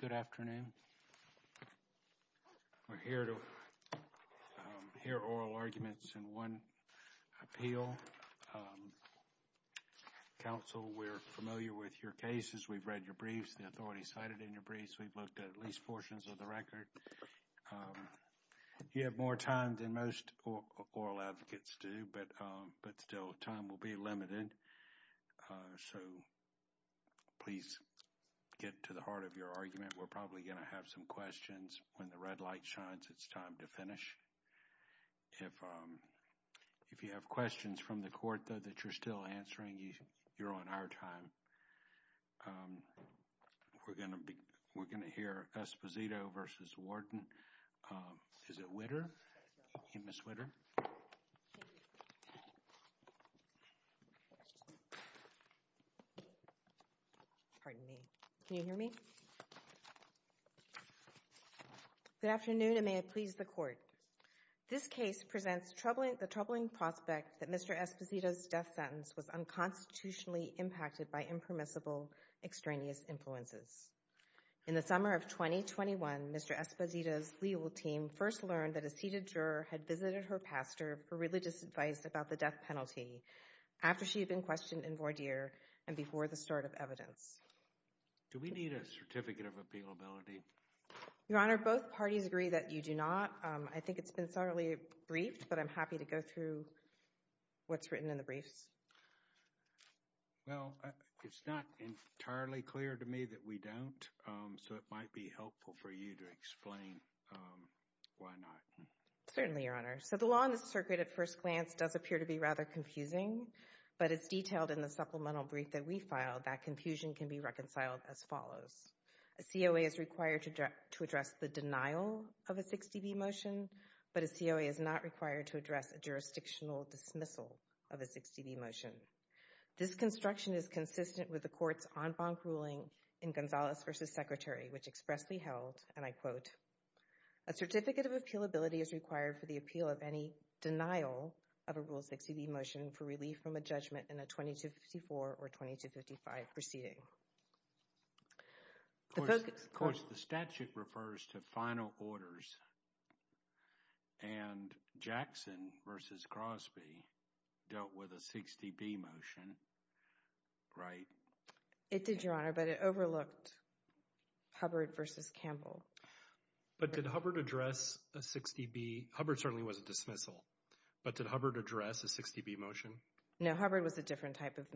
Good afternoon. We're here to hear oral arguments in one appeal. Counsel, we're familiar with your cases, we've read your briefs, the authorities cited in your briefs, we've looked at at least portions of the record. You have more time than most oral advocates do, but still time will be limited, so please get to the heart of your argument. We're probably going to have some questions when the red light shines, it's time to finish. If you have questions from the court though that you're still answering, you're on our time. We're going to hear Esposito v. Warden. Is it Witter? Can you hear me? Good afternoon and may it please the court. This case presents the troubling prospect that Mr. Esposito's death sentence was unconstitutionally impacted by impermissible extraneous influences. In the summer of 2021, Mr. Esposito's legal team first learned that a seated juror had visited her pastor for religious advice about the death penalty after she had been questioned in voir dire and before the start of evidence. Do we need a certificate of appealability? Your Honor, both parties agree that you do not. I think it's been thoroughly briefed, but I'm happy to go through what's written in the briefs. Well, it's not entirely clear to me that we don't, so it might be helpful for you to explain why not. Certainly, Your Honor. So the law on the circuit at first glance does appear to be rather confusing, but it's detailed in the supplemental brief that we filed that confusion can be reconciled as follows. A COA is required to address the denial of a 60B motion, but a COA is not required to address a jurisdictional dismissal of a 60B motion. This construction is consistent with the court's en banc ruling in Gonzalez v. Secretary, which expressly held, and I quote, a certificate of appealability is required for the appeal of any denial of a Rule 60B motion for relief from a judgment in a 2254 or 2255 proceeding. Of course, the statute refers to final orders, and Jackson v. Crosby dealt with a 60B motion, right? It did, Your Honor, but it overlooked Hubbard v. Campbell. But did Hubbard address a 60B? Hubbard certainly was a dismissal, but did Hubbard address a 60B motion? No, Hubbard was a different type of...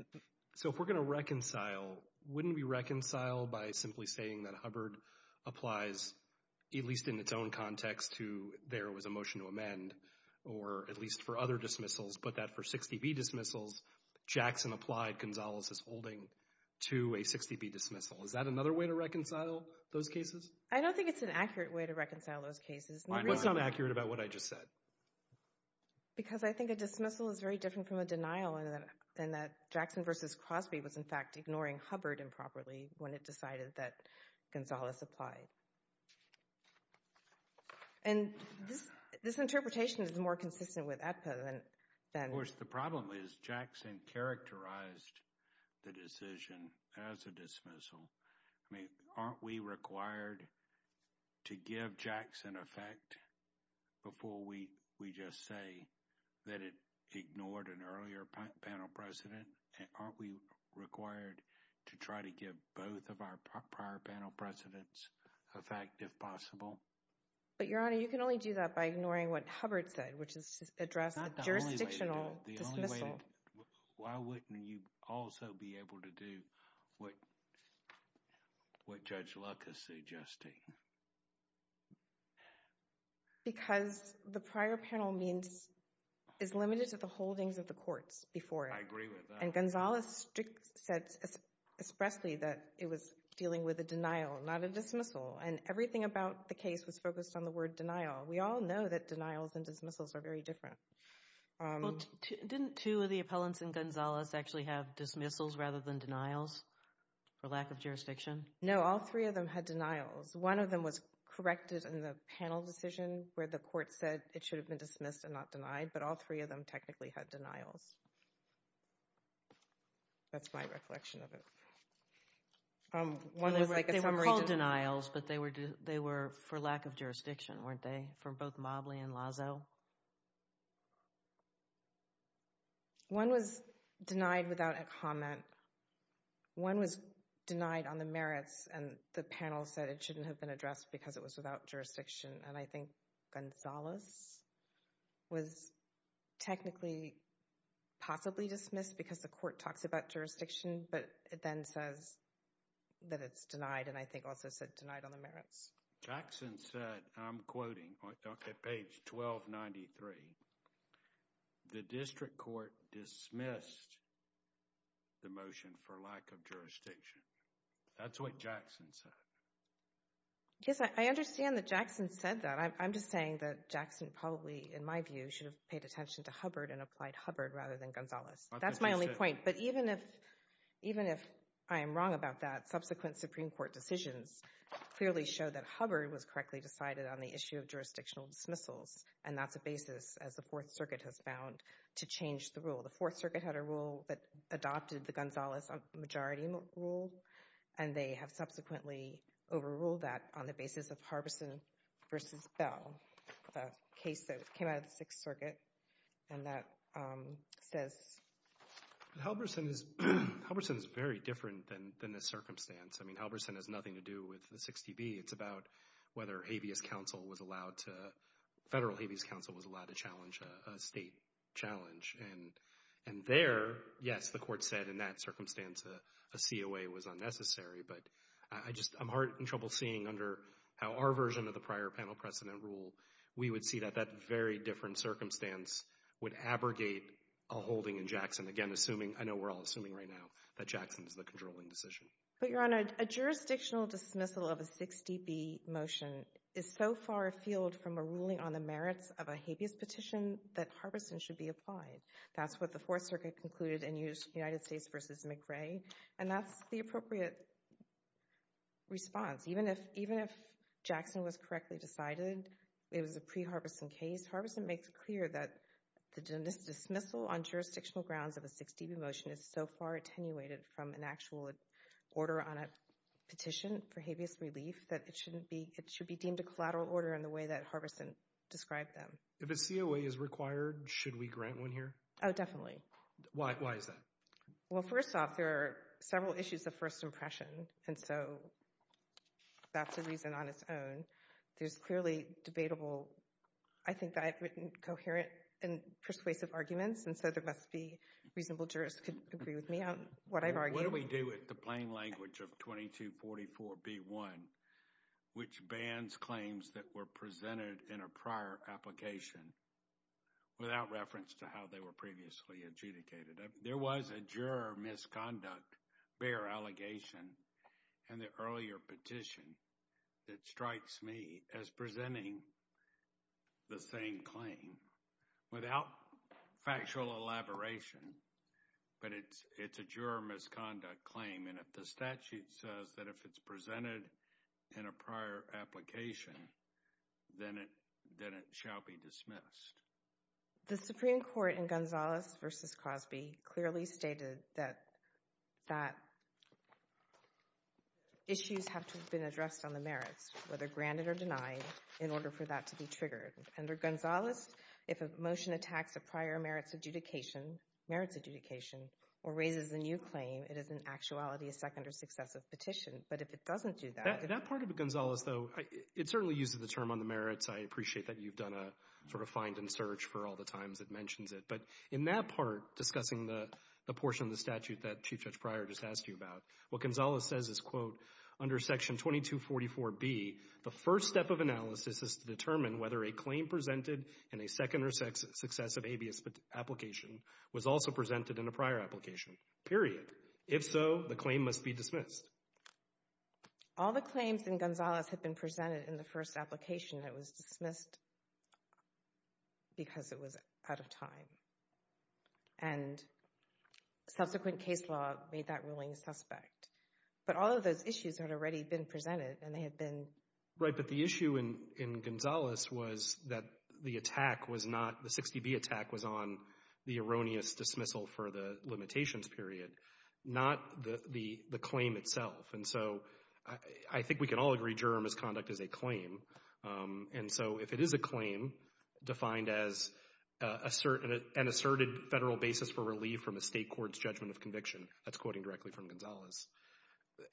So if we're going to reconcile, wouldn't we reconcile by simply saying that Hubbard applies, at least in its own context, to there was a motion to amend, or at least for other dismissals, but that for 60B dismissals, Jackson applied Gonzalez's holding to a 60B dismissal? Is that another way to reconcile those cases? I don't think it's an accurate way to reconcile those cases. Why not? What's not accurate about what I just said? Because I think a dismissal is very different from a denial in that Jackson v. Crosby was, in fact, ignoring Hubbard improperly when it decided that Gonzalez applied. And this interpretation is more consistent with ADPA than... Of course, the problem is Jackson characterized the decision as a dismissal. I mean, aren't we required to give Jackson effect before we just say that it ignored an earlier panel president? And aren't we required to try to give both of our prior panel presidents effect if possible? But Your Honor, you can only do that by ignoring what Hubbard said, which is to address a jurisdictional dismissal. The only way... Why wouldn't you also be able to do what Judge Luck is suggesting? Because the prior panel means is limited to the holdings of the courts before it. I agree with that. And Gonzalez said expressly that it was dealing with a denial, not a dismissal. And everything about the case was focused on the word denial. We all know that denials and dismissals are very different. Well, didn't two of the appellants in Gonzalez actually have dismissals rather than denials for lack of jurisdiction? No, all three of them had denials. One of them was corrected in the panel decision where the court said it should have been dismissed and not denied, but all three of them technically had denials. That's my reflection of it. They were called denials, but they were for lack of jurisdiction, weren't they, for both Mobley and Lazo? One was denied without a comment. One was denied on the merits, and the panel said it shouldn't have been addressed because it was without jurisdiction. And I think Gonzalez was technically possibly dismissed because the court talks about jurisdiction, but it then says that it's denied, and I think also said denied on the merits. Jackson said, I'm quoting, on page 1293, the district court dismissed the motion for lack of jurisdiction. That's what Jackson said. Yes, I understand that Jackson said that. I'm just saying that Jackson probably, in my view, should have paid attention to Hubbard and applied Hubbard rather than Gonzalez. That's my only point. But even if I am wrong about that, subsequent Supreme Court decisions clearly show that Hubbard was correctly decided on the issue of jurisdictional dismissals, and that's a fourth circuit had a rule that adopted the Gonzalez majority rule, and they have subsequently overruled that on the basis of Halverson v. Bell, the case that came out of the Sixth Circuit, and that says... Halverson is very different than this circumstance. I mean, Halverson has nothing to do with the 60B. It's about whether habeas counsel was allowed to... Federal habeas counsel was allowed to challenge a state challenge. And there, yes, the Court said in that circumstance a COA was unnecessary, but I just... I'm heartened and trouble seeing under how our version of the prior panel precedent rule, we would see that that very different circumstance would abrogate a holding in Jackson, again, assuming... I know we're all assuming right now that Jackson's the controlling decision. But, Your Honor, a jurisdictional dismissal of a 60B motion is so far afield from a ruling on the merits of a habeas petition that Halverson should be applied. That's what the Fourth Circuit concluded in United States v. McRae, and that's the appropriate response. Even if... Even if Jackson was correctly decided, it was a pre-Halverson case, Halverson makes clear that the dismissal on jurisdictional grounds of a 60B motion is so far attenuated from an actual order on a petition for habeas relief that it shouldn't be... It should be deemed a collateral order in the way that Halverson described them. If a COA is required, should we grant one here? Oh, definitely. Why is that? Well, first off, there are several issues of first impression, and so that's a reason on its own. There's clearly debatable... I think that I've written coherent and persuasive arguments, and so there must be reasonable jurists who could agree with me on what I've argued. What do we do with the plain language of 2244B1, which bans claims that were presented in a prior application without reference to how they were previously adjudicated? There was a juror misconduct bear allegation in the earlier petition that strikes me as presenting the same claim without factual elaboration, but it's a juror misconduct claim, and if the statute says that if it's presented in a prior application, then it shall be dismissed. The Supreme Court in Gonzales v. Cosby clearly stated that issues have to have been addressed on the merits, whether granted or denied, in order for that to be triggered. Under Gonzales, if a motion attacks a prior merits adjudication or raises a new claim, it is in actuality a second or successive petition, but if it doesn't do that... That part of Gonzales, though, it certainly uses the term on the merits. I appreciate that you've done a sort of find and search for all the times it mentions it, but in that part discussing the portion of the statute that Chief Judge Pryor just asked you about, what Gonzales says is, quote, under section 2244B, the first step of analysis is to determine whether a claim presented in a second or successive habeas application was also presented in a prior application, period. If so, the claim must be dismissed. All the claims in Gonzales have been presented in the first application that was dismissed because it was out of time, and subsequent case law made that ruling suspect. But all of those issues had already been presented, and they had been... Right, but the issue in Gonzales was that the attack was not, the 60B attack was on the erroneous dismissal for the limitations period, not the claim itself. And so, I think we can all agree juror misconduct is a claim. And so, if it is a claim defined as an asserted federal basis for relief from a state court's judgment of conviction, that's quoting directly from Gonzales.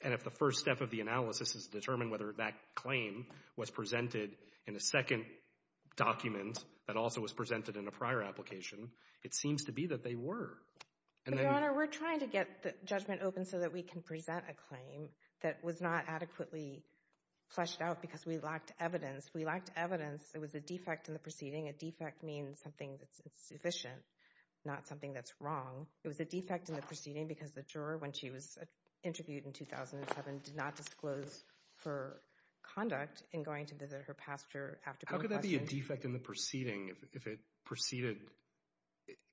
And if the first step of the analysis is to determine whether that claim was presented in a second document that also was presented in a prior application, it seems to be that they were. But, Your Honor, we're trying to get the judgment open so that we can present a claim that was not adequately fleshed out because we lacked evidence. If we lacked evidence, it was a defect in the proceeding. A defect means something that's insufficient, not something that's wrong. It was a defect in the proceeding because the juror, when she was interviewed in 2007, did not disclose her conduct in going to visit her pastor after being questioned. How could that be a defect in the proceeding if it preceded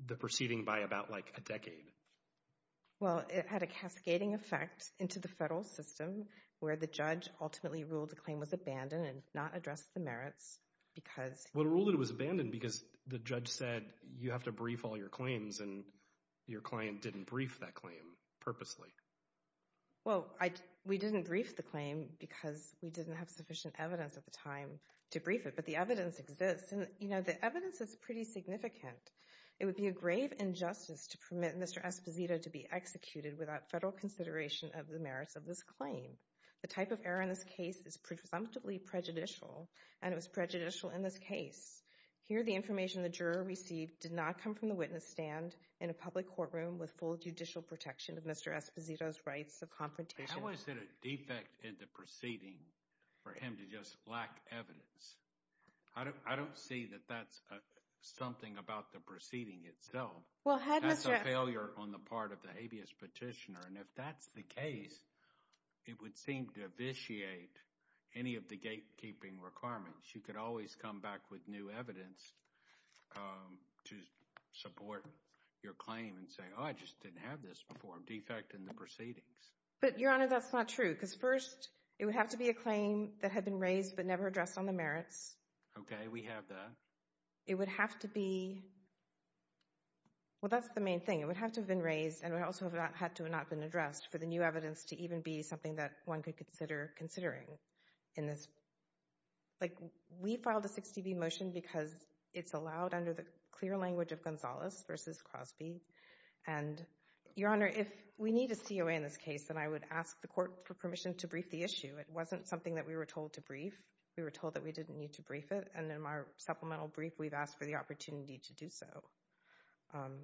the proceeding by about like a decade? Well, it had a cascading effect into the federal system where the judge ultimately ruled the claim was abandoned and not addressed the merits because... Well, it ruled it was abandoned because the judge said, you have to brief all your claims and your client didn't brief that claim purposely. Well, we didn't brief the claim because we didn't have sufficient evidence at the time to brief it. But the evidence exists. And, you know, the evidence is pretty significant. It would be a grave injustice to permit Mr. Esposito to be executed without federal consideration of the merits of this claim. The type of error in this case is presumptively prejudicial and it was prejudicial in this case. Here, the information the juror received did not come from the witness stand in a public courtroom with full judicial protection of Mr. Esposito's rights of confrontation. How is it a defect in the proceeding for him to just lack evidence? I don't see that that's something about the proceeding itself. That's a failure on the part of the habeas petitioner. And if that's the case, it would seem to vitiate any of the gatekeeping requirements. You could always come back with new evidence to support your claim and say, oh, I just didn't have this before. Defect in the proceedings. But, Your Honor, that's not true. Because first, it would have to be a claim that had been raised but never addressed on the merits. Okay, we have that. It would have to be, well, that's the main thing. It would have to have been raised and it also had to have not been addressed for the new evidence to even be something that one could consider considering in this. Like, we filed a 60B motion because it's allowed under the clear language of Gonzalez versus Crosby. And, Your Honor, if we need a COA in this case, then I would ask the court for permission to brief the issue. It wasn't something that we were told to brief. We were told that we didn't need to brief it. And in our supplemental brief, we've asked for the opportunity to do so.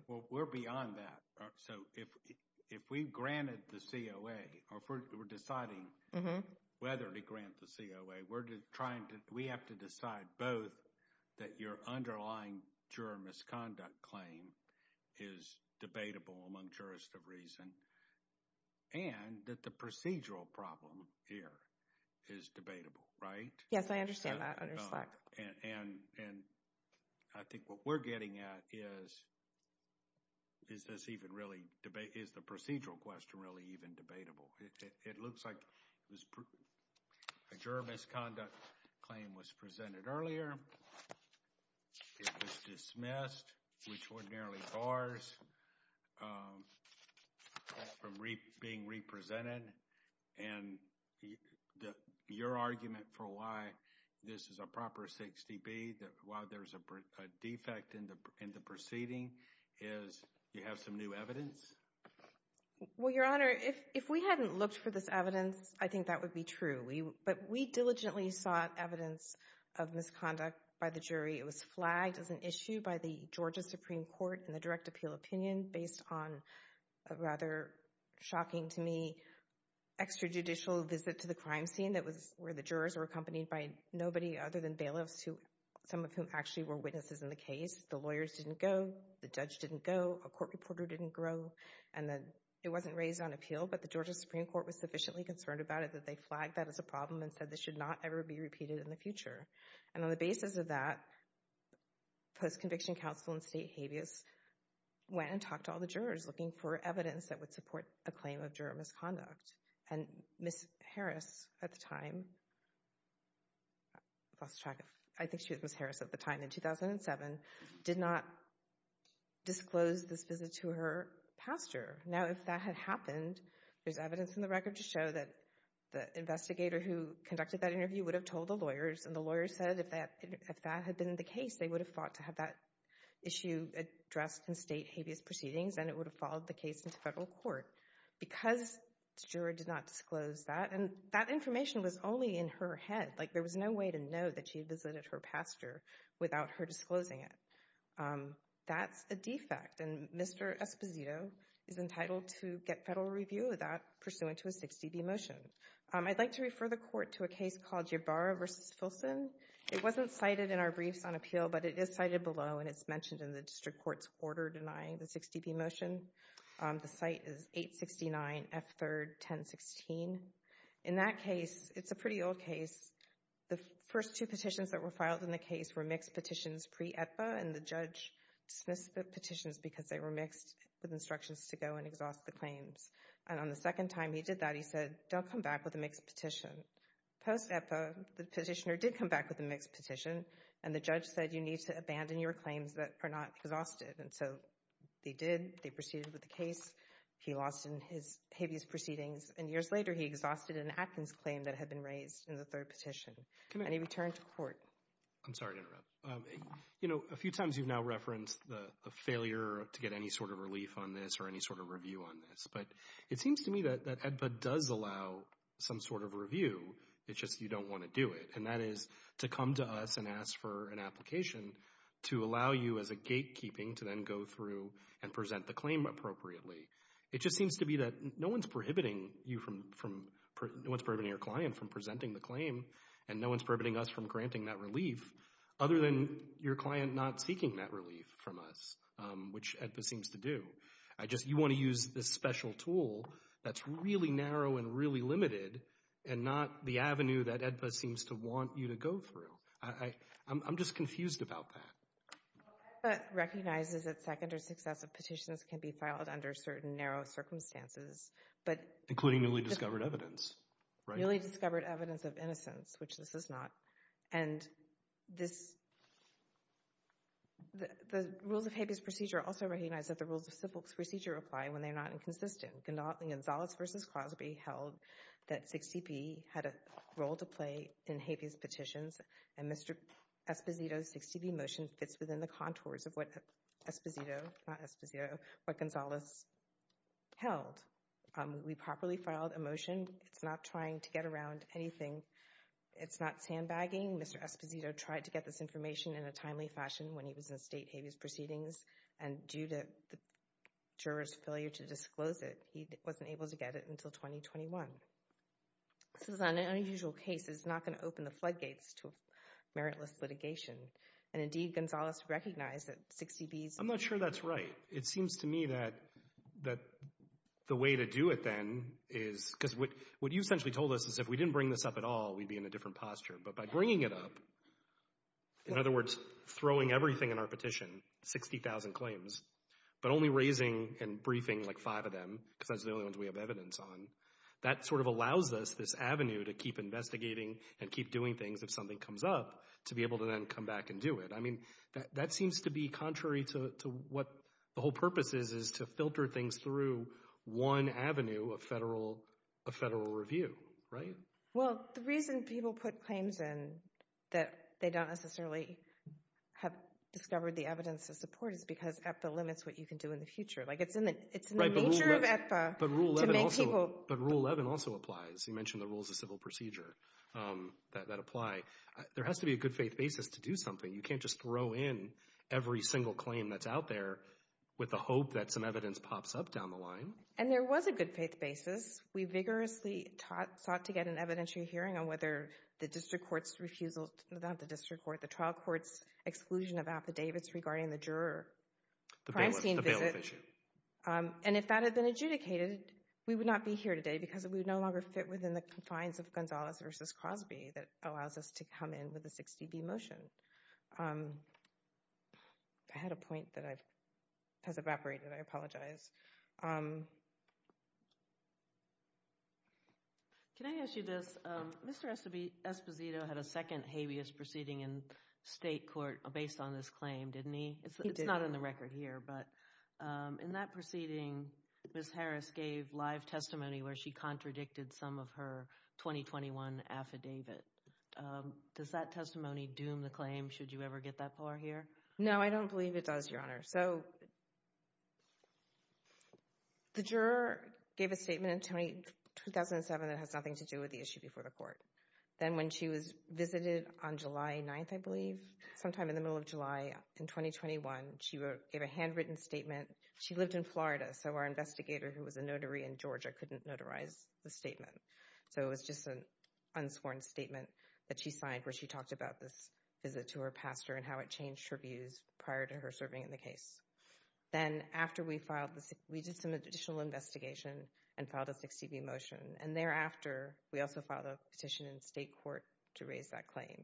Well, we're beyond that. So, if we granted the COA, or if we're deciding whether to grant the COA, we have to decide both that your underlying juror misconduct claim is debatable among jurists of reason and that the procedural problem here is debatable, right? Yes, I understand that. I understand. And I think what we're getting at is, is this even really debate, is the procedural question really even debatable? It looks like it was a juror misconduct claim was presented earlier. It was dismissed, which ordinarily bars from being represented. And your argument for why this is a proper 60B, why there's a defect in the proceeding, is you have some new evidence? Well, Your Honor, if we hadn't looked for this evidence, I think that would be true. But we diligently sought evidence of misconduct by the jury. It was flagged as an issue by the Georgia Supreme Court in the direct appeal opinion based on a rather shocking to me extrajudicial visit to the crime scene that was where the jurors were accompanied by nobody other than bailiffs, some of whom actually were witnesses in the case. The lawyers didn't go. The judge didn't go. A court reporter didn't grow. And then it wasn't raised on appeal, but the Georgia Supreme Court was sufficiently concerned about it that they flagged that as a problem and said this should not ever be repeated in the future. And on the basis of that, post-conviction counsel in State habeas went and talked to all the jurors looking for evidence that would support a claim of juror misconduct. And Ms. Harris at the time, I think she was Ms. Harris at the time in 2007, did not disclose this visit to her pastor. Now, if that had happened, there's evidence in the record to show that the investigator who conducted that interview would have told the lawyers, and the lawyers said if that had been the case, they would have fought to have that issue addressed in State habeas proceedings, and it would have followed the case into federal court. Because the juror did not disclose that, and that information was only in her head, like there was no way to know that she visited her pastor without her disclosing it. That's a defect, and Mr. Esposito is entitled to get federal review of that pursuant to a 6dB motion. I'd like to refer the court to a case called Ybarra v. Filson. It wasn't cited in our briefs on appeal, but it is cited below, and it's mentioned in the district court's order denying the 6dB motion. The site is 869 F3rd 1016. In that case, it's a pretty old case. The first two petitions that were filed in the case were mixed petitions pre-ETPA, and the judge dismissed the petitions because they were mixed with instructions to go and exhaust the claims. And on the second time he did that, he said, don't come back with a mixed petition. Post-ETPA, the petitioner did come back with a mixed petition, and the judge said, you need to abandon your claims that are not exhausted. And so they did. They proceeded with the case. He lost in his habeas proceedings, and years later, he exhausted an Atkins claim that had been raised in the third petition, and he returned to court. I'm sorry to interrupt. You know, a few times you've now referenced the failure to get any sort of relief on this or any sort of review on this, but it seems to me that EDPA does allow some sort of review. It's just you don't want to do it, and that is to come to us and ask for an application to allow you as a gatekeeping to then go through and present the claim appropriately. It just seems to be that no one's prohibiting you from, no one's prohibiting your client from presenting the claim, and no one's prohibiting us from granting that relief other than your client not seeking that relief from us, which EDPA seems to do. You want to use this special tool that's really narrow and really limited and not the avenue that EDPA seems to want you to go through. I'm just confused about that. Well, EDPA recognizes that second or successive petitions can be filed under certain narrow circumstances, but... Including newly discovered evidence, right? And this, the rules of habeas procedure also recognize that the rules of civil procedure apply when they're not inconsistent. Gonzalez versus Crosby held that 60P had a role to play in habeas petitions, and Mr. Esposito's 60P motion fits within the contours of what Esposito, not Esposito, but Gonzalez held. We properly filed a motion. It's not trying to get anything. It's not sandbagging. Mr. Esposito tried to get this information in a timely fashion when he was in state habeas proceedings, and due to the juror's failure to disclose it, he wasn't able to get it until 2021. This is an unusual case. It's not going to open the floodgates to meritless litigation, and indeed, Gonzalez recognized that 60B's... I'm not sure that's right. It seems to me that the way to do it then is, because what you essentially told us is if we didn't bring this up at all, we'd be in a different posture, but by bringing it up, in other words, throwing everything in our petition, 60,000 claims, but only raising and briefing like five of them, because that's the only ones we have evidence on, that sort of allows us this avenue to keep investigating and keep doing things if something comes up to be able to then come back and do it. I mean, that seems to be contrary to what the whole purpose is, is to filter things through one avenue of federal review, right? Well, the reason people put claims in that they don't necessarily have discovered the evidence to support is because EPA limits what you can do in the future. It's in the nature of EPA to make people... But Rule 11 also applies. You mentioned the Rules of Civil Procedure that apply. There has to be a good faith basis to do something. You can't just throw in every single claim that's out there with the hope that some evidence pops up down the line. And there was a good faith basis. We vigorously sought to get an evidentiary hearing on whether the district court's refusal, not the district court, the trial court's exclusion of affidavits regarding the juror primetime visit, and if that had been adjudicated, we would not be here today because we would no longer fit within the confines of Gonzalez versus Crosby that allows us to come in with the 60B motion. I had a point that has evaporated. I apologize. Can I ask you this? Mr. Esposito had a second habeas proceeding in state court based on this claim, didn't he? It's not in the record here, but in that proceeding, Ms. Harris gave live testimony where she contradicted some of her 2021 affidavit. Does that testimony doom the claim? Should you ever get that part here? No, I don't believe it does, Your Honor. So the juror gave a statement in 2007 that has nothing to do with the issue before the court. Then when she was visited on July 9th, I believe, sometime in the middle of July in 2021, she gave a handwritten statement. She lived in Florida, so our investigator who was a notary in Georgia couldn't notarize the statement. So it was just an unsworn statement that she signed where she talked about this visit to her pastor and how it changed her views prior to her serving in the case. Then after we filed this, we did some additional investigation and filed a 60B motion. And thereafter, we also filed a petition in state court to raise that claim.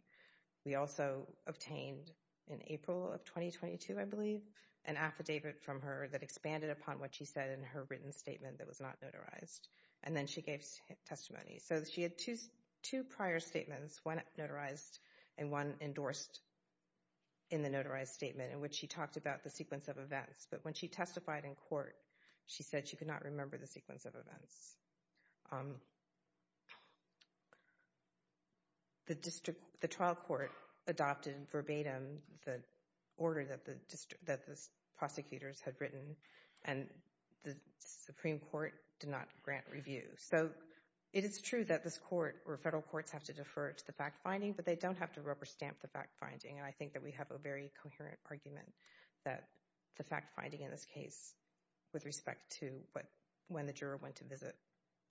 We also obtained in April of 2022, I believe, an affidavit from her that expanded upon what she said in her written that was not notarized. And then she gave testimony. So she had two prior statements, one notarized and one endorsed in the notarized statement in which she talked about the sequence of events. But when she testified in court, she said she could not remember the sequence of events. The trial court adopted verbatim the order that the prosecutors had written and the Supreme Court did not grant review. So it is true that this court or federal courts have to defer to the fact-finding, but they don't have to rubber stamp the fact-finding. And I think that we have a very coherent argument that the fact-finding in this case with respect to what when the juror went to visit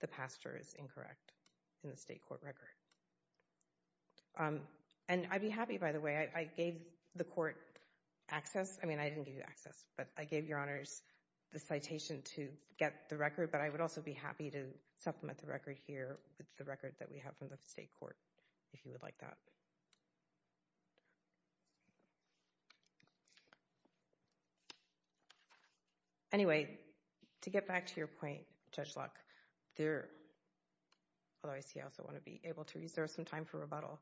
the pastor is incorrect in the state court record. And I'd be happy, by the way, I gave the court access. I mean, I didn't give you access, but I gave your honors the citation to get the record. But I would also be happy to supplement the record here with the record that we have from the state court, if you would like that. Anyway, to get back to your point, Judge Locke, there, although I see I also want to be able to reserve some time for rebuttal.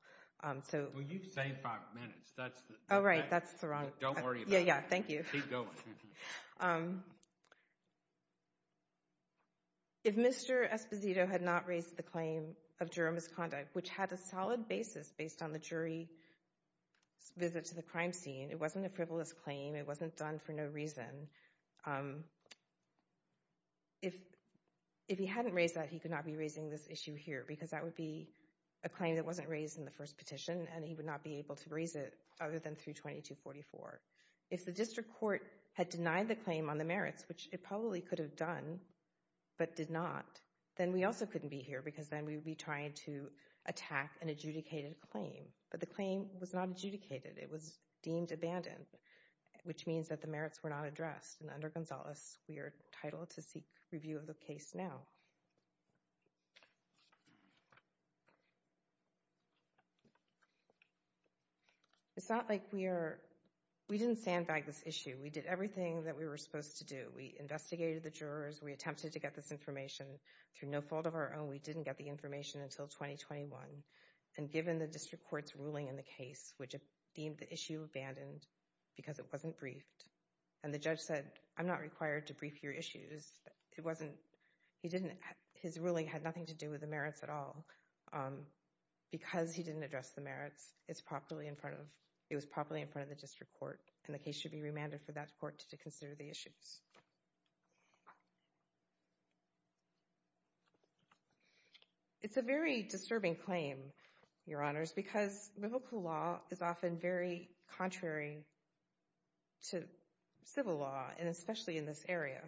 So you've saved five minutes. That's all right. That's the wrong. Don't worry about it. Yeah, yeah. Thank you. Keep going. If Mr. Esposito had not raised the claim of juror misconduct, which had a solid basis based on the jury's visit to the crime scene, it wasn't a frivolous claim. It wasn't done for no reason. If he hadn't raised that, he could not be raising this issue here, because that would be a claim that wasn't raised in the first petition, and he would not be able to raise it through 2244. If the district court had denied the claim on the merits, which it probably could have done but did not, then we also couldn't be here, because then we would be trying to attack an adjudicated claim. But the claim was not adjudicated. It was deemed abandoned, which means that the merits were not addressed. And under Gonzales, we are entitled to seek review of the case now. It's not like we are, we didn't sandbag this issue. We did everything that we were supposed to do. We investigated the jurors. We attempted to get this information through no fault of our own. We didn't get the information until 2021. And given the district court's ruling in the case, which deemed the issue abandoned because it wasn't briefed, and the judge said, I'm not required to brief your issues. His ruling had nothing to do with the merits at all. Because he didn't address the merits, it was properly in front of the district court, and the case should be remanded for that court to consider the issues. It's a very disturbing claim, Your Honors, because biblical law is often very contrary to civil law, and especially in this area.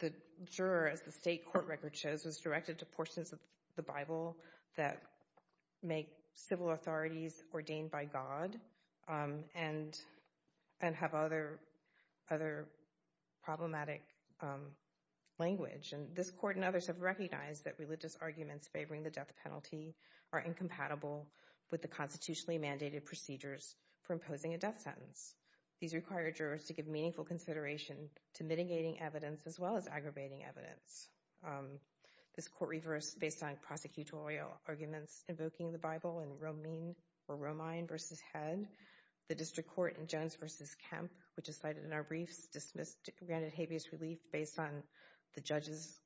The juror, as the state court record shows, was directed to portions of the Bible that make civil authorities ordained by God and have other problematic language. And this court and others have recognized that religious mandated procedures for imposing a death sentence. These require jurors to give meaningful consideration to mitigating evidence as well as aggravating evidence. This court reversed based on prosecutorial arguments invoking the Bible in Romine v. Head. The district court in Jones v. Kemp, which is cited in our briefs, dismissed granted habeas relief based on the judges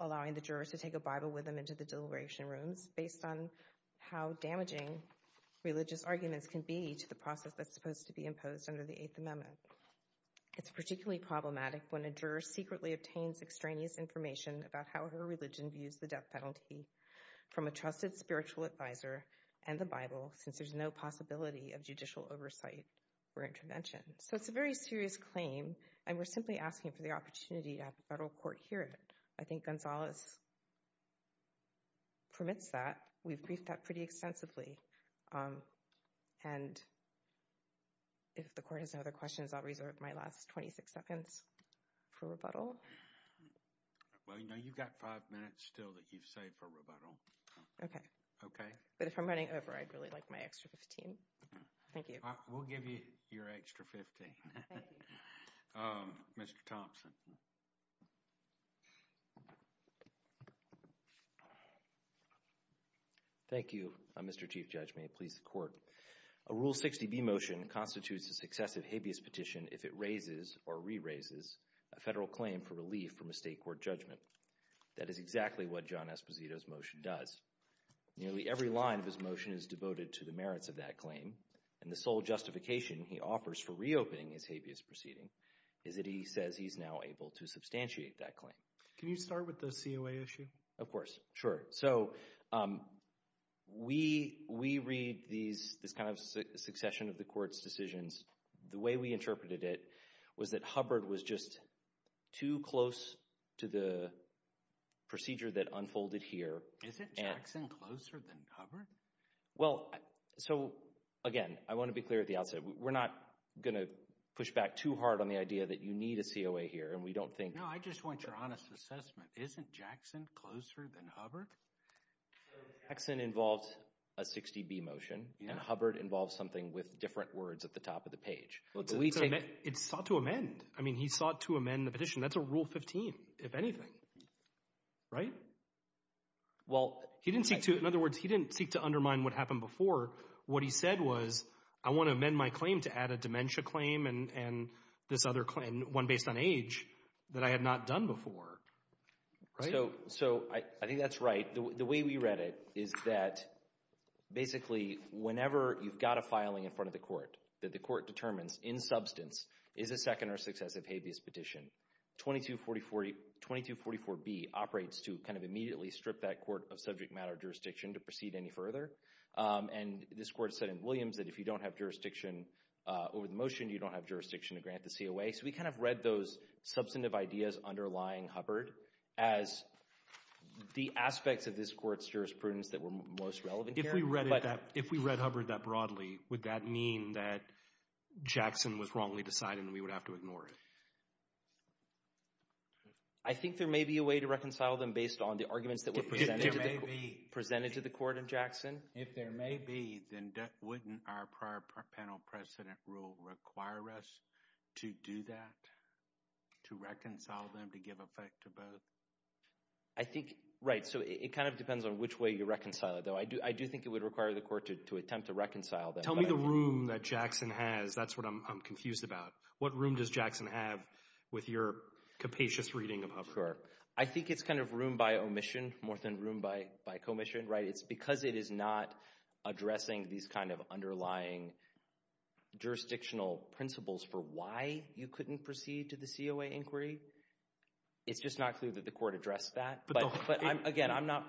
allowing the jurors to take a Bible with them into the deliberation rooms based on how damaging religious arguments can be to the process that's supposed to be imposed under the Eighth Amendment. It's particularly problematic when a juror secretly obtains extraneous information about how her religion views the death penalty from a trusted spiritual advisor and the Bible, since there's no possibility of judicial oversight or intervention. So it's a very serious claim, and we're simply asking for the opportunity to have the federal court hear it. I think Gonzalez permits that. We've briefed that pretty extensively. And if the court has no other questions, I'll reserve my last 26 seconds for rebuttal. Well, you know, you've got five minutes still that you've saved for rebuttal. Okay. Okay. But if I'm running over, I'd really like my extra 15. Thank you. We'll give you your extra 15. Mr. Thompson. Thank you, Mr. Chief Judge. May it please the court. A Rule 60B motion constitutes a successive habeas petition if it raises or re-raises a federal claim for relief from a state court judgment. That is exactly what John Esposito's motion does. Nearly every line of his motion is devoted to the merits of that claim, and the sole justification he offers for reopening his habeas proceeding is that he says he's now able to substantiate that claim. Can you start with the COA issue? Of course. Sure. So we read this kind of succession of the court's decisions. The way we interpreted it was that Hubbard was just too close to the procedure that unfolded here. Is it Jackson closer than Hubbard? Well, so again, I want to be clear at the outset. We're not going to push back too hard on the idea that you need a COA here, and we don't think— I just want your honest assessment. Isn't Jackson closer than Hubbard? Jackson involves a 60B motion, and Hubbard involves something with different words at the top of the page. It's sought to amend. I mean, he sought to amend the petition. That's a Rule 15, if anything, right? Well— He didn't seek to—in other words, he didn't seek to undermine what happened before. What he said was, I want to amend my claim to add a dementia claim and this other claim, one based on age, that I had not done before. So I think that's right. The way we read it is that, basically, whenever you've got a filing in front of the court that the court determines, in substance, is a second or successive habeas petition, 2244B operates to kind of immediately strip that court of subject matter jurisdiction to proceed any further. And this court said in Williams that if you don't have jurisdiction over the motion, you don't have jurisdiction to grant the COA. So we kind of read those substantive ideas underlying Hubbard as the aspects of this court's jurisprudence that were most relevant here, but— If we read Hubbard that broadly, would that mean that Jackson was wrongly decided, and we would have to ignore it? I think there may be a way to reconcile them based on the arguments that were presented— If there may be— Presented to the court in Jackson. If there may be, then wouldn't our prior panel precedent rule require us to do that, to reconcile them, to give effect to both? I think, right, so it kind of depends on which way you reconcile it, though. I do think it would require the court to attempt to reconcile them. Tell me the room that Jackson has. That's what I'm confused about. What room does Jackson have with your capacious reading of Hubbard? Sure. I think it's kind of room by omission more than room by commission, right? It's because it is not addressing these kind of underlying jurisdictional principles for why you couldn't proceed to the COA inquiry. It's just not clear that the court addressed that. But again, I'm not—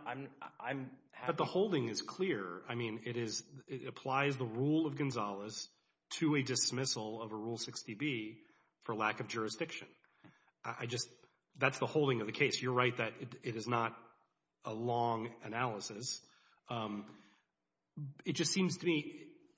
But the holding is clear. I mean, it applies the rule of Gonzalez to a dismissal of a Rule 60B for lack of jurisdiction. That's the holding of the case. You're right that it is not a long analysis. It just seems to me,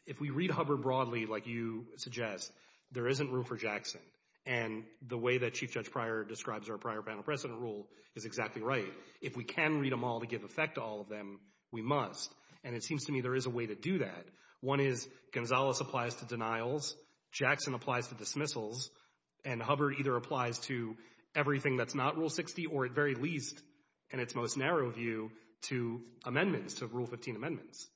if we read Hubbard broadly, like you suggest, there isn't room for Jackson. And the way that Chief Judge Pryor describes our prior panel precedent rule is exactly right. If we can read them all to give effect to all of them, we must. And it seems to me there is a way to do that. One is, Gonzalez applies to denials. Jackson applies to dismissals. And Hubbard either applies to everything that's not Rule 60, or at very least, in its most narrow view, to amendments, to Rule 15 amendments.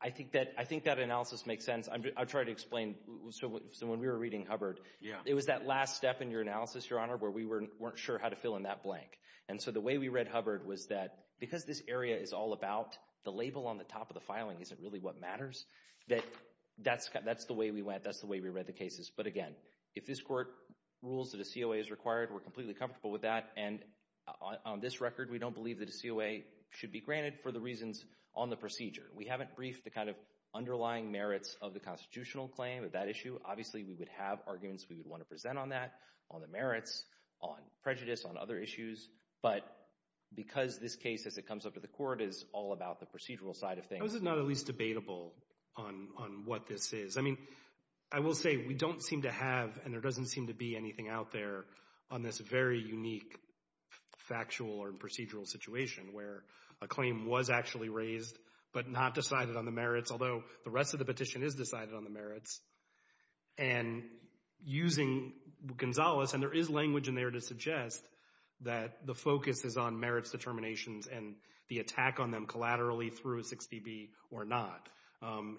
I think that analysis makes sense. I'll try to explain. So when we were reading Hubbard, it was that last step in your analysis, Your Honor, where we weren't sure how to fill in that blank. And so the way we read Hubbard was that because this area is all about the label on the top of the filing isn't really what matters, that that's the way we went. That's the way we read the cases. But again, if this court rules that a COA is required, we're completely comfortable with that. And on this record, we don't believe that a COA should be granted for the reasons on the procedure. We haven't briefed the kind of underlying merits of the constitutional claim of that issue. Obviously, we would have arguments we would want to present on that, on the merits, on prejudice, on other issues. But because this case, as it comes up to the court, is all about the procedural side of things. How is it not at least debatable on what this is? I mean, I will say we don't seem to have, and there doesn't seem to be anything out there on this very unique factual or procedural situation where a claim was actually raised but not decided on the merits, although the rest of the petition is decided on the merits. And using Gonzales, and there is language in there to suggest that the focus is on merits determinations and the attack on them collaterally through a 6PB or not.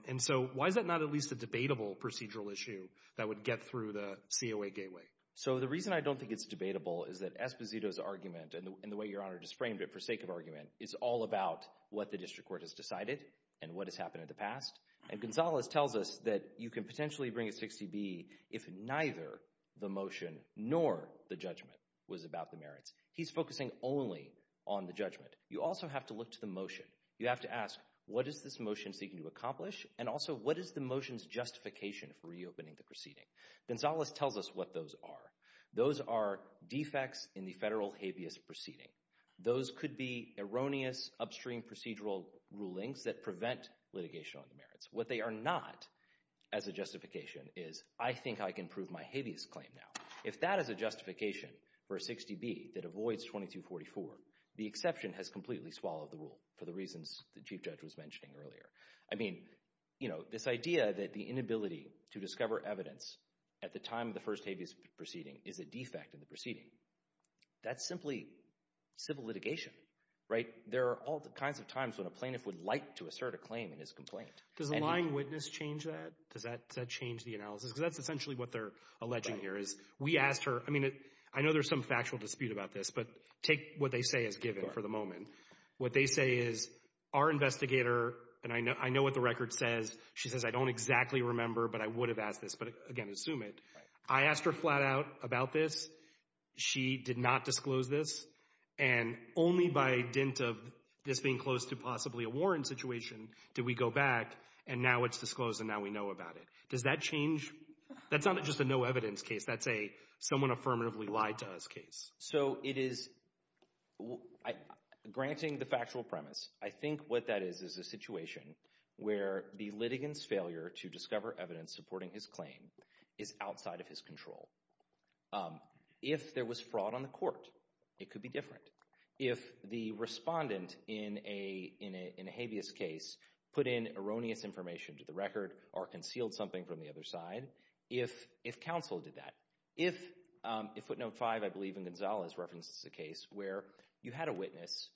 And so why is that not at least a debatable procedural issue that would get through the COA gateway? So the reason I don't think it's debatable is that Esposito's argument, and the way Your Honor just framed it for sake of argument, is all about what the district court has decided and what has happened in the past. And Gonzales tells us that you can potentially bring a 6PB if neither the motion nor the judgment was about the merits. He's focusing only on the judgment. You also have to look to the motion. You have to ask, what is this motion seeking to accomplish? And also, is the motion's justification for reopening the proceeding? Gonzales tells us what those are. Those are defects in the federal habeas proceeding. Those could be erroneous upstream procedural rulings that prevent litigation on the merits. What they are not as a justification is, I think I can prove my habeas claim now. If that is a justification for a 6PB that avoids 2244, the exception has completely swallowed the rule for the reasons the Chief Judge was mentioning earlier. I mean, you know, this idea that the inability to discover evidence at the time of the first habeas proceeding is a defect in the proceeding, that's simply civil litigation, right? There are all kinds of times when a plaintiff would like to assert a claim in his complaint. Does the lying witness change that? Does that change the analysis? Because that's essentially what they're alleging here is, we asked her, I mean, I know there's some factual dispute about this, but take what they say as given for the moment. What they say is, our investigator, and I know what the record says, she says, I don't exactly remember, but I would have asked this, but again, assume it. I asked her flat out about this. She did not disclose this, and only by a dint of this being close to possibly a warrant situation did we go back, and now it's disclosed, and now we know about it. Does that change? That's not just a no evidence case. That's a affirmatively lied to us case. So it is, granting the factual premise, I think what that is, is a situation where the litigant's failure to discover evidence supporting his claim is outside of his control. If there was fraud on the court, it could be different. If the respondent in a habeas case put in erroneous information to the record or concealed something from the other side, if counsel did that, if Footnote 5, I believe in Gonzalez, references a case where you had a witness,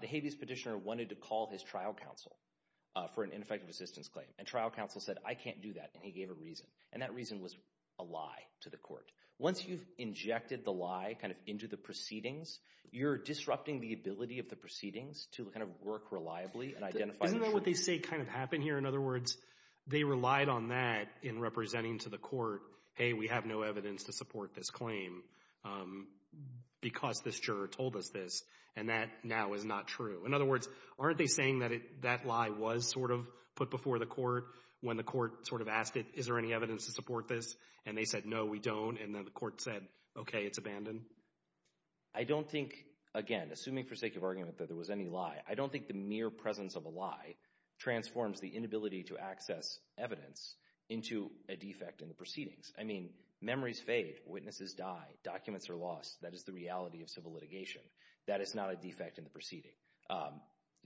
the habeas petitioner wanted to call his trial counsel for an ineffective assistance claim, and trial counsel said, I can't do that, and he gave a reason, and that reason was a lie to the court. Once you've injected the lie kind of into the proceedings, you're disrupting the ability of the proceedings to kind of work reliably and identify the truth. Isn't that what they say kind of happened here? In other words, they relied on that in representing to the court, hey, we have no evidence to support this claim because this juror told us this, and that now is not true. In other words, aren't they saying that that lie was sort of put before the court when the court sort of asked it, is there any evidence to support this, and they said, no, we don't, and then the court said, okay, it's abandoned? I don't think, again, assuming for argument that there was any lie, I don't think the mere presence of a lie transforms the inability to access evidence into a defect in the proceedings. I mean, memories fade, witnesses die, documents are lost. That is the reality of civil litigation. That is not a defect in the proceeding.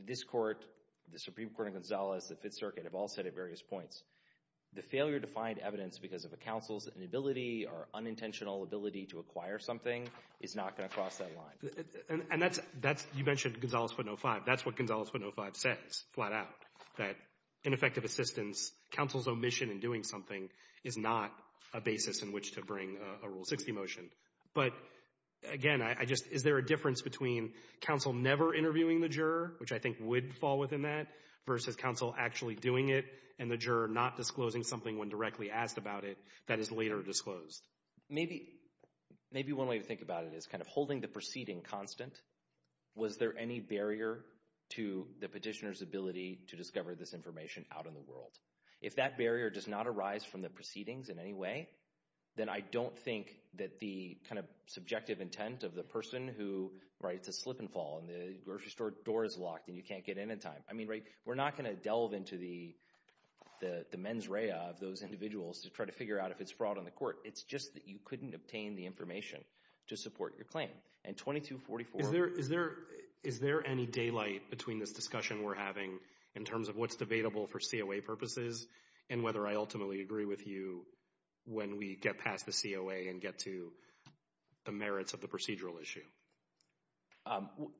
This court, the Supreme Court in Gonzalez, the Fifth Circuit have all said at various points, the failure to find evidence because of a counsel's inability or unintentional to acquire something is not going to cross that line. And that's, you mentioned Gonzalez 505. That's what Gonzalez 505 says, flat out, that ineffective assistance, counsel's omission in doing something is not a basis in which to bring a Rule 60 motion. But again, I just, is there a difference between counsel never interviewing the juror, which I think would fall within that, versus counsel actually doing it and the juror not disclosing something when asked about it that is later disclosed? Maybe one way to think about it is kind of holding the proceeding constant. Was there any barrier to the petitioner's ability to discover this information out in the world? If that barrier does not arise from the proceedings in any way, then I don't think that the kind of subjective intent of the person who writes a slip and fall and the grocery store door is locked and you can't get in in time. I mean, we're not going to delve into the mens rea of those individuals to try to figure out if it's fraud on the court. It's just that you couldn't obtain the information to support your claim. And 2244— Is there any daylight between this discussion we're having in terms of what's debatable for COA purposes and whether I ultimately agree with you when we get past the COA and get to the merits of the procedural issue?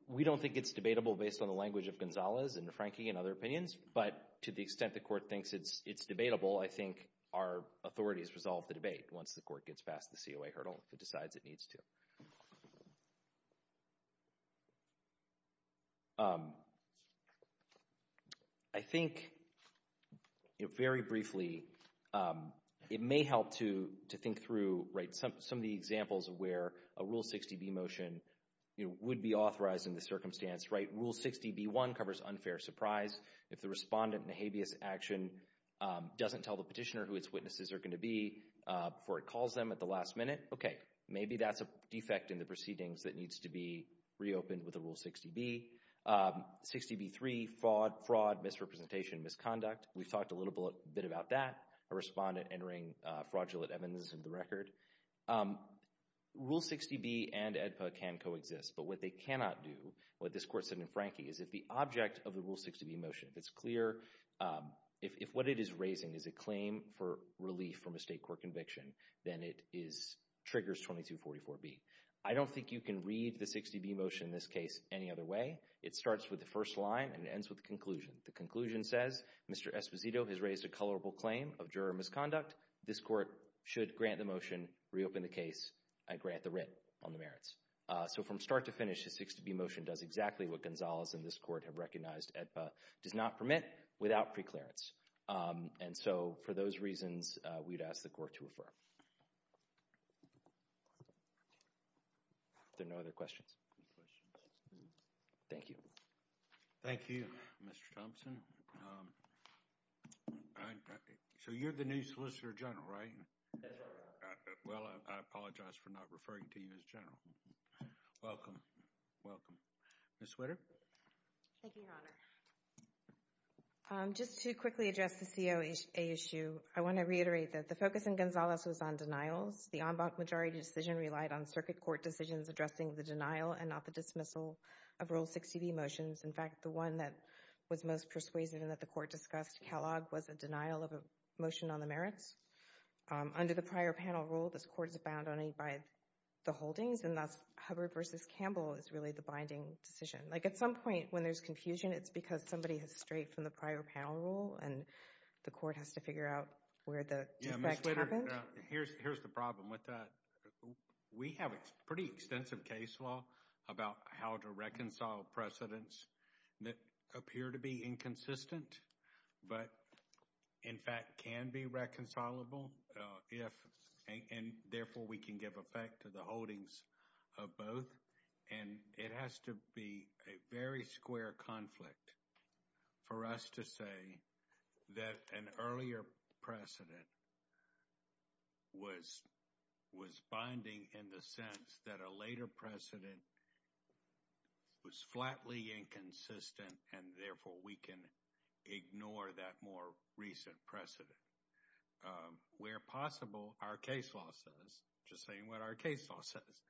We don't think it's debatable based on the language of Gonzalez and DeFranchi and other opinions, but to the extent the court thinks it's debatable, I think our authorities resolve the debate once the court gets past the COA hurdle, if it decides it needs to. I think, you know, very briefly, it may help to think through, right, some of the examples of where a Rule 60b motion, you know, would be authorized in the circumstance, right? Rule 60b1 covers unfair surprise. If the respondent in a habeas action doesn't tell the petitioner who its witnesses are going to be before it calls them at the last minute, okay, maybe that's a defect in the proceedings that needs to be reopened with a Rule 60b. 60b3—fraud, misrepresentation, misconduct—we've talked a little bit about that. A respondent entering fraudulent evidence into the record. Rule 60b and AEDPA can coexist, but what they cannot do, what this court said in DeFranchi, is if the object of the Rule 60b motion, if it's clear, if what it is raising is a claim for relief from a state court conviction, then it triggers 2244B. I don't think you can read the 60b motion in this case any other way. It starts with the first line and ends with the conclusion. The conclusion says, Mr. Esposito has raised a colorable claim of juror misconduct. This court should grant the motion, reopen the case, and grant the writ on the merits. So from start to finish, the 60b motion does exactly what Gonzalez and this court have recognized AEDPA does not permit without pre-clearance. And so for those reasons, we'd ask the court to refer. There are no other questions? Thank you. Thank you, Mr. Thompson. So you're the new Solicitor General, right? Well, I apologize for not referring to you as General. Welcome. Welcome. Ms. Switter? Thank you, Your Honor. Just to quickly address the COA issue, I want to reiterate that the focus in Gonzalez was on denials. The en banc majority decision relied on circuit court decisions addressing the denial and not the dismissal of Rule 60b motions. In fact, the one that was most persuasive and that the court discussed, Kellogg, was a denial of a motion on the merits. Under the prior panel rule, this court is bound only by the holdings, and that's Hubbard v. Campbell is really the binding decision. Like at some point, when there's confusion, it's because somebody has strayed from the prior panel rule and the court has to figure out where the defect happened. Yeah, Ms. Switter, here's the problem with that. We have a pretty extensive case law about how to reconcile precedents that appear to be inconsistent but, in fact, can be reconcilable, and therefore, we can give effect to the holdings of both. And it has to be a very square conflict for us to say that an earlier precedent was binding in the sense that a later precedent was flatly inconsistent and, therefore, we can ignore that more recent precedent. Where possible, our case law says, just saying what our case law says,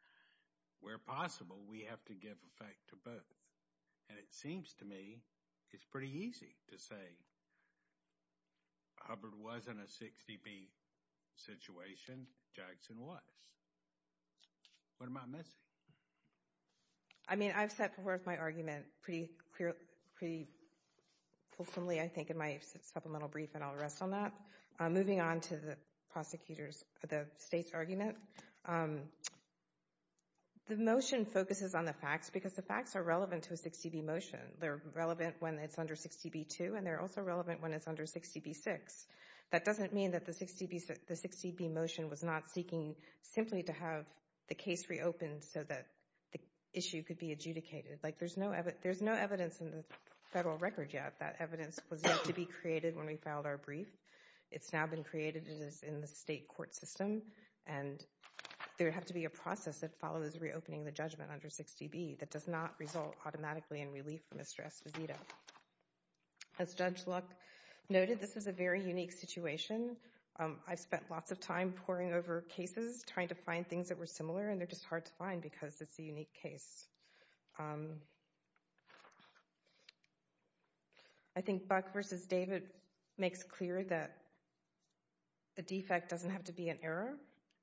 where possible, we have to give effect to both. And it seems to me, it's pretty easy to say Hubbard wasn't a 60B situation. Jackson was. What am I missing? I mean, I've set forth my argument pretty clearly, pretty fulsomely, I think, in my supplemental brief, and I'll rest on that. Moving on to the prosecutors, the state's argument, the motion focuses on the facts because the facts are relevant to a 60B motion. They're relevant when it's under 60B2, and they're also relevant when it's under 60B6. That doesn't mean that the 60B motion was not seeking simply to have the case reopened so that the issue could be adjudicated. Like, there's no evidence in the federal record yet. That evidence was yet to be created when we filed our brief. It's now been created. It is in the state court system, and there would have to be a process that follows reopening the judgment under 60B that does not result automatically in relief for Mr. Esposito. As Judge Luck noted, this is a very unique situation. I've spent lots of time poring over cases, trying to find things that were similar, and they're just hard to find because it's a unique case. I think Buck v. David makes clear that the defect doesn't have to be an error,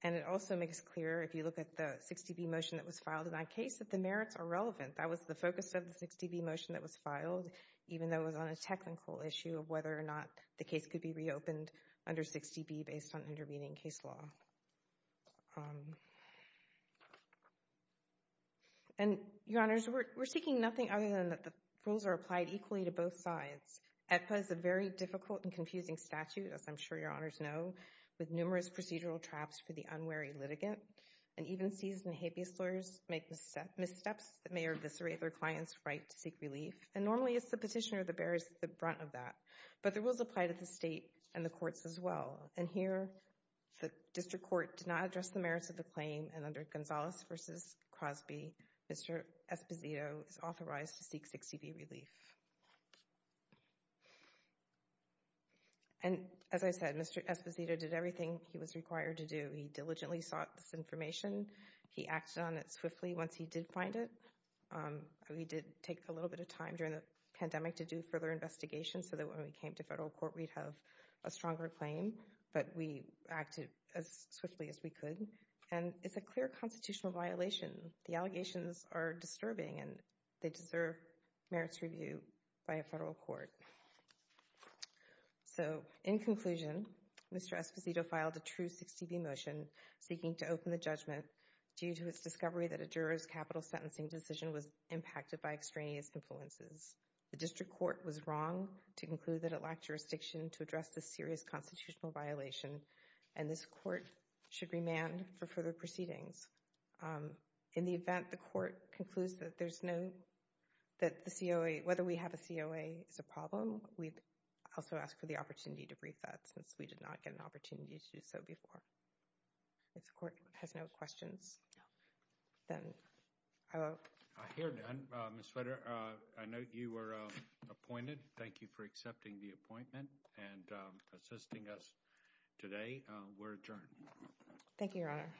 and it also makes clear, if you look at the 60B motion that was filed in that case, that the merits are relevant. That was the focus of the 60B motion that was filed, even though it was on a technical issue of whether or not the case could be reopened under 60B based on intervening case law. And, Your Honors, we're seeking nothing other than that the rules are applied equally to both sides. EPA is a very difficult and confusing statute, as I'm sure Your Honors know, with numerous procedural traps for the unwary litigant, and even seasoned habeas lawyers make missteps that may eviscerate their client's right to seek relief, and normally it's the petitioner that bears the brunt of that. But the rules apply to the state and the courts as well, and here the district court did not address the merits of the claim, and under Gonzalez v. Crosby, Mr. Esposito is authorized to seek 60B relief. And, as I said, Mr. Esposito did everything he was required to do. He diligently sought this information. He acted on it swiftly once he did find it. We did take a little bit of time during the pandemic to do further investigation so that when we came to federal court, we'd have a stronger claim, but we acted as swiftly as we could, and it's a clear constitutional violation. The allegations are disturbing, and they deserve merits review by a federal court. So, in conclusion, Mr. Esposito filed a true 60B motion seeking to open the judgment due to its discovery that a juror's capital sentencing decision was impacted by extraneous influences. The district court was wrong to conclude that it lacked jurisdiction to address this serious constitutional violation, and this court should remand for further proceedings. In the event, the court concludes that whether we have a COA is a problem, we'd also ask for the opportunity to brief that since we did not get an opportunity to do so before. If the court has no questions, then I will. I hear none. Ms. Fetter, I note you were appointed. Thank you for accepting the appointment and assisting us today. We're adjourned. Thank you, Your Honor. Thank you.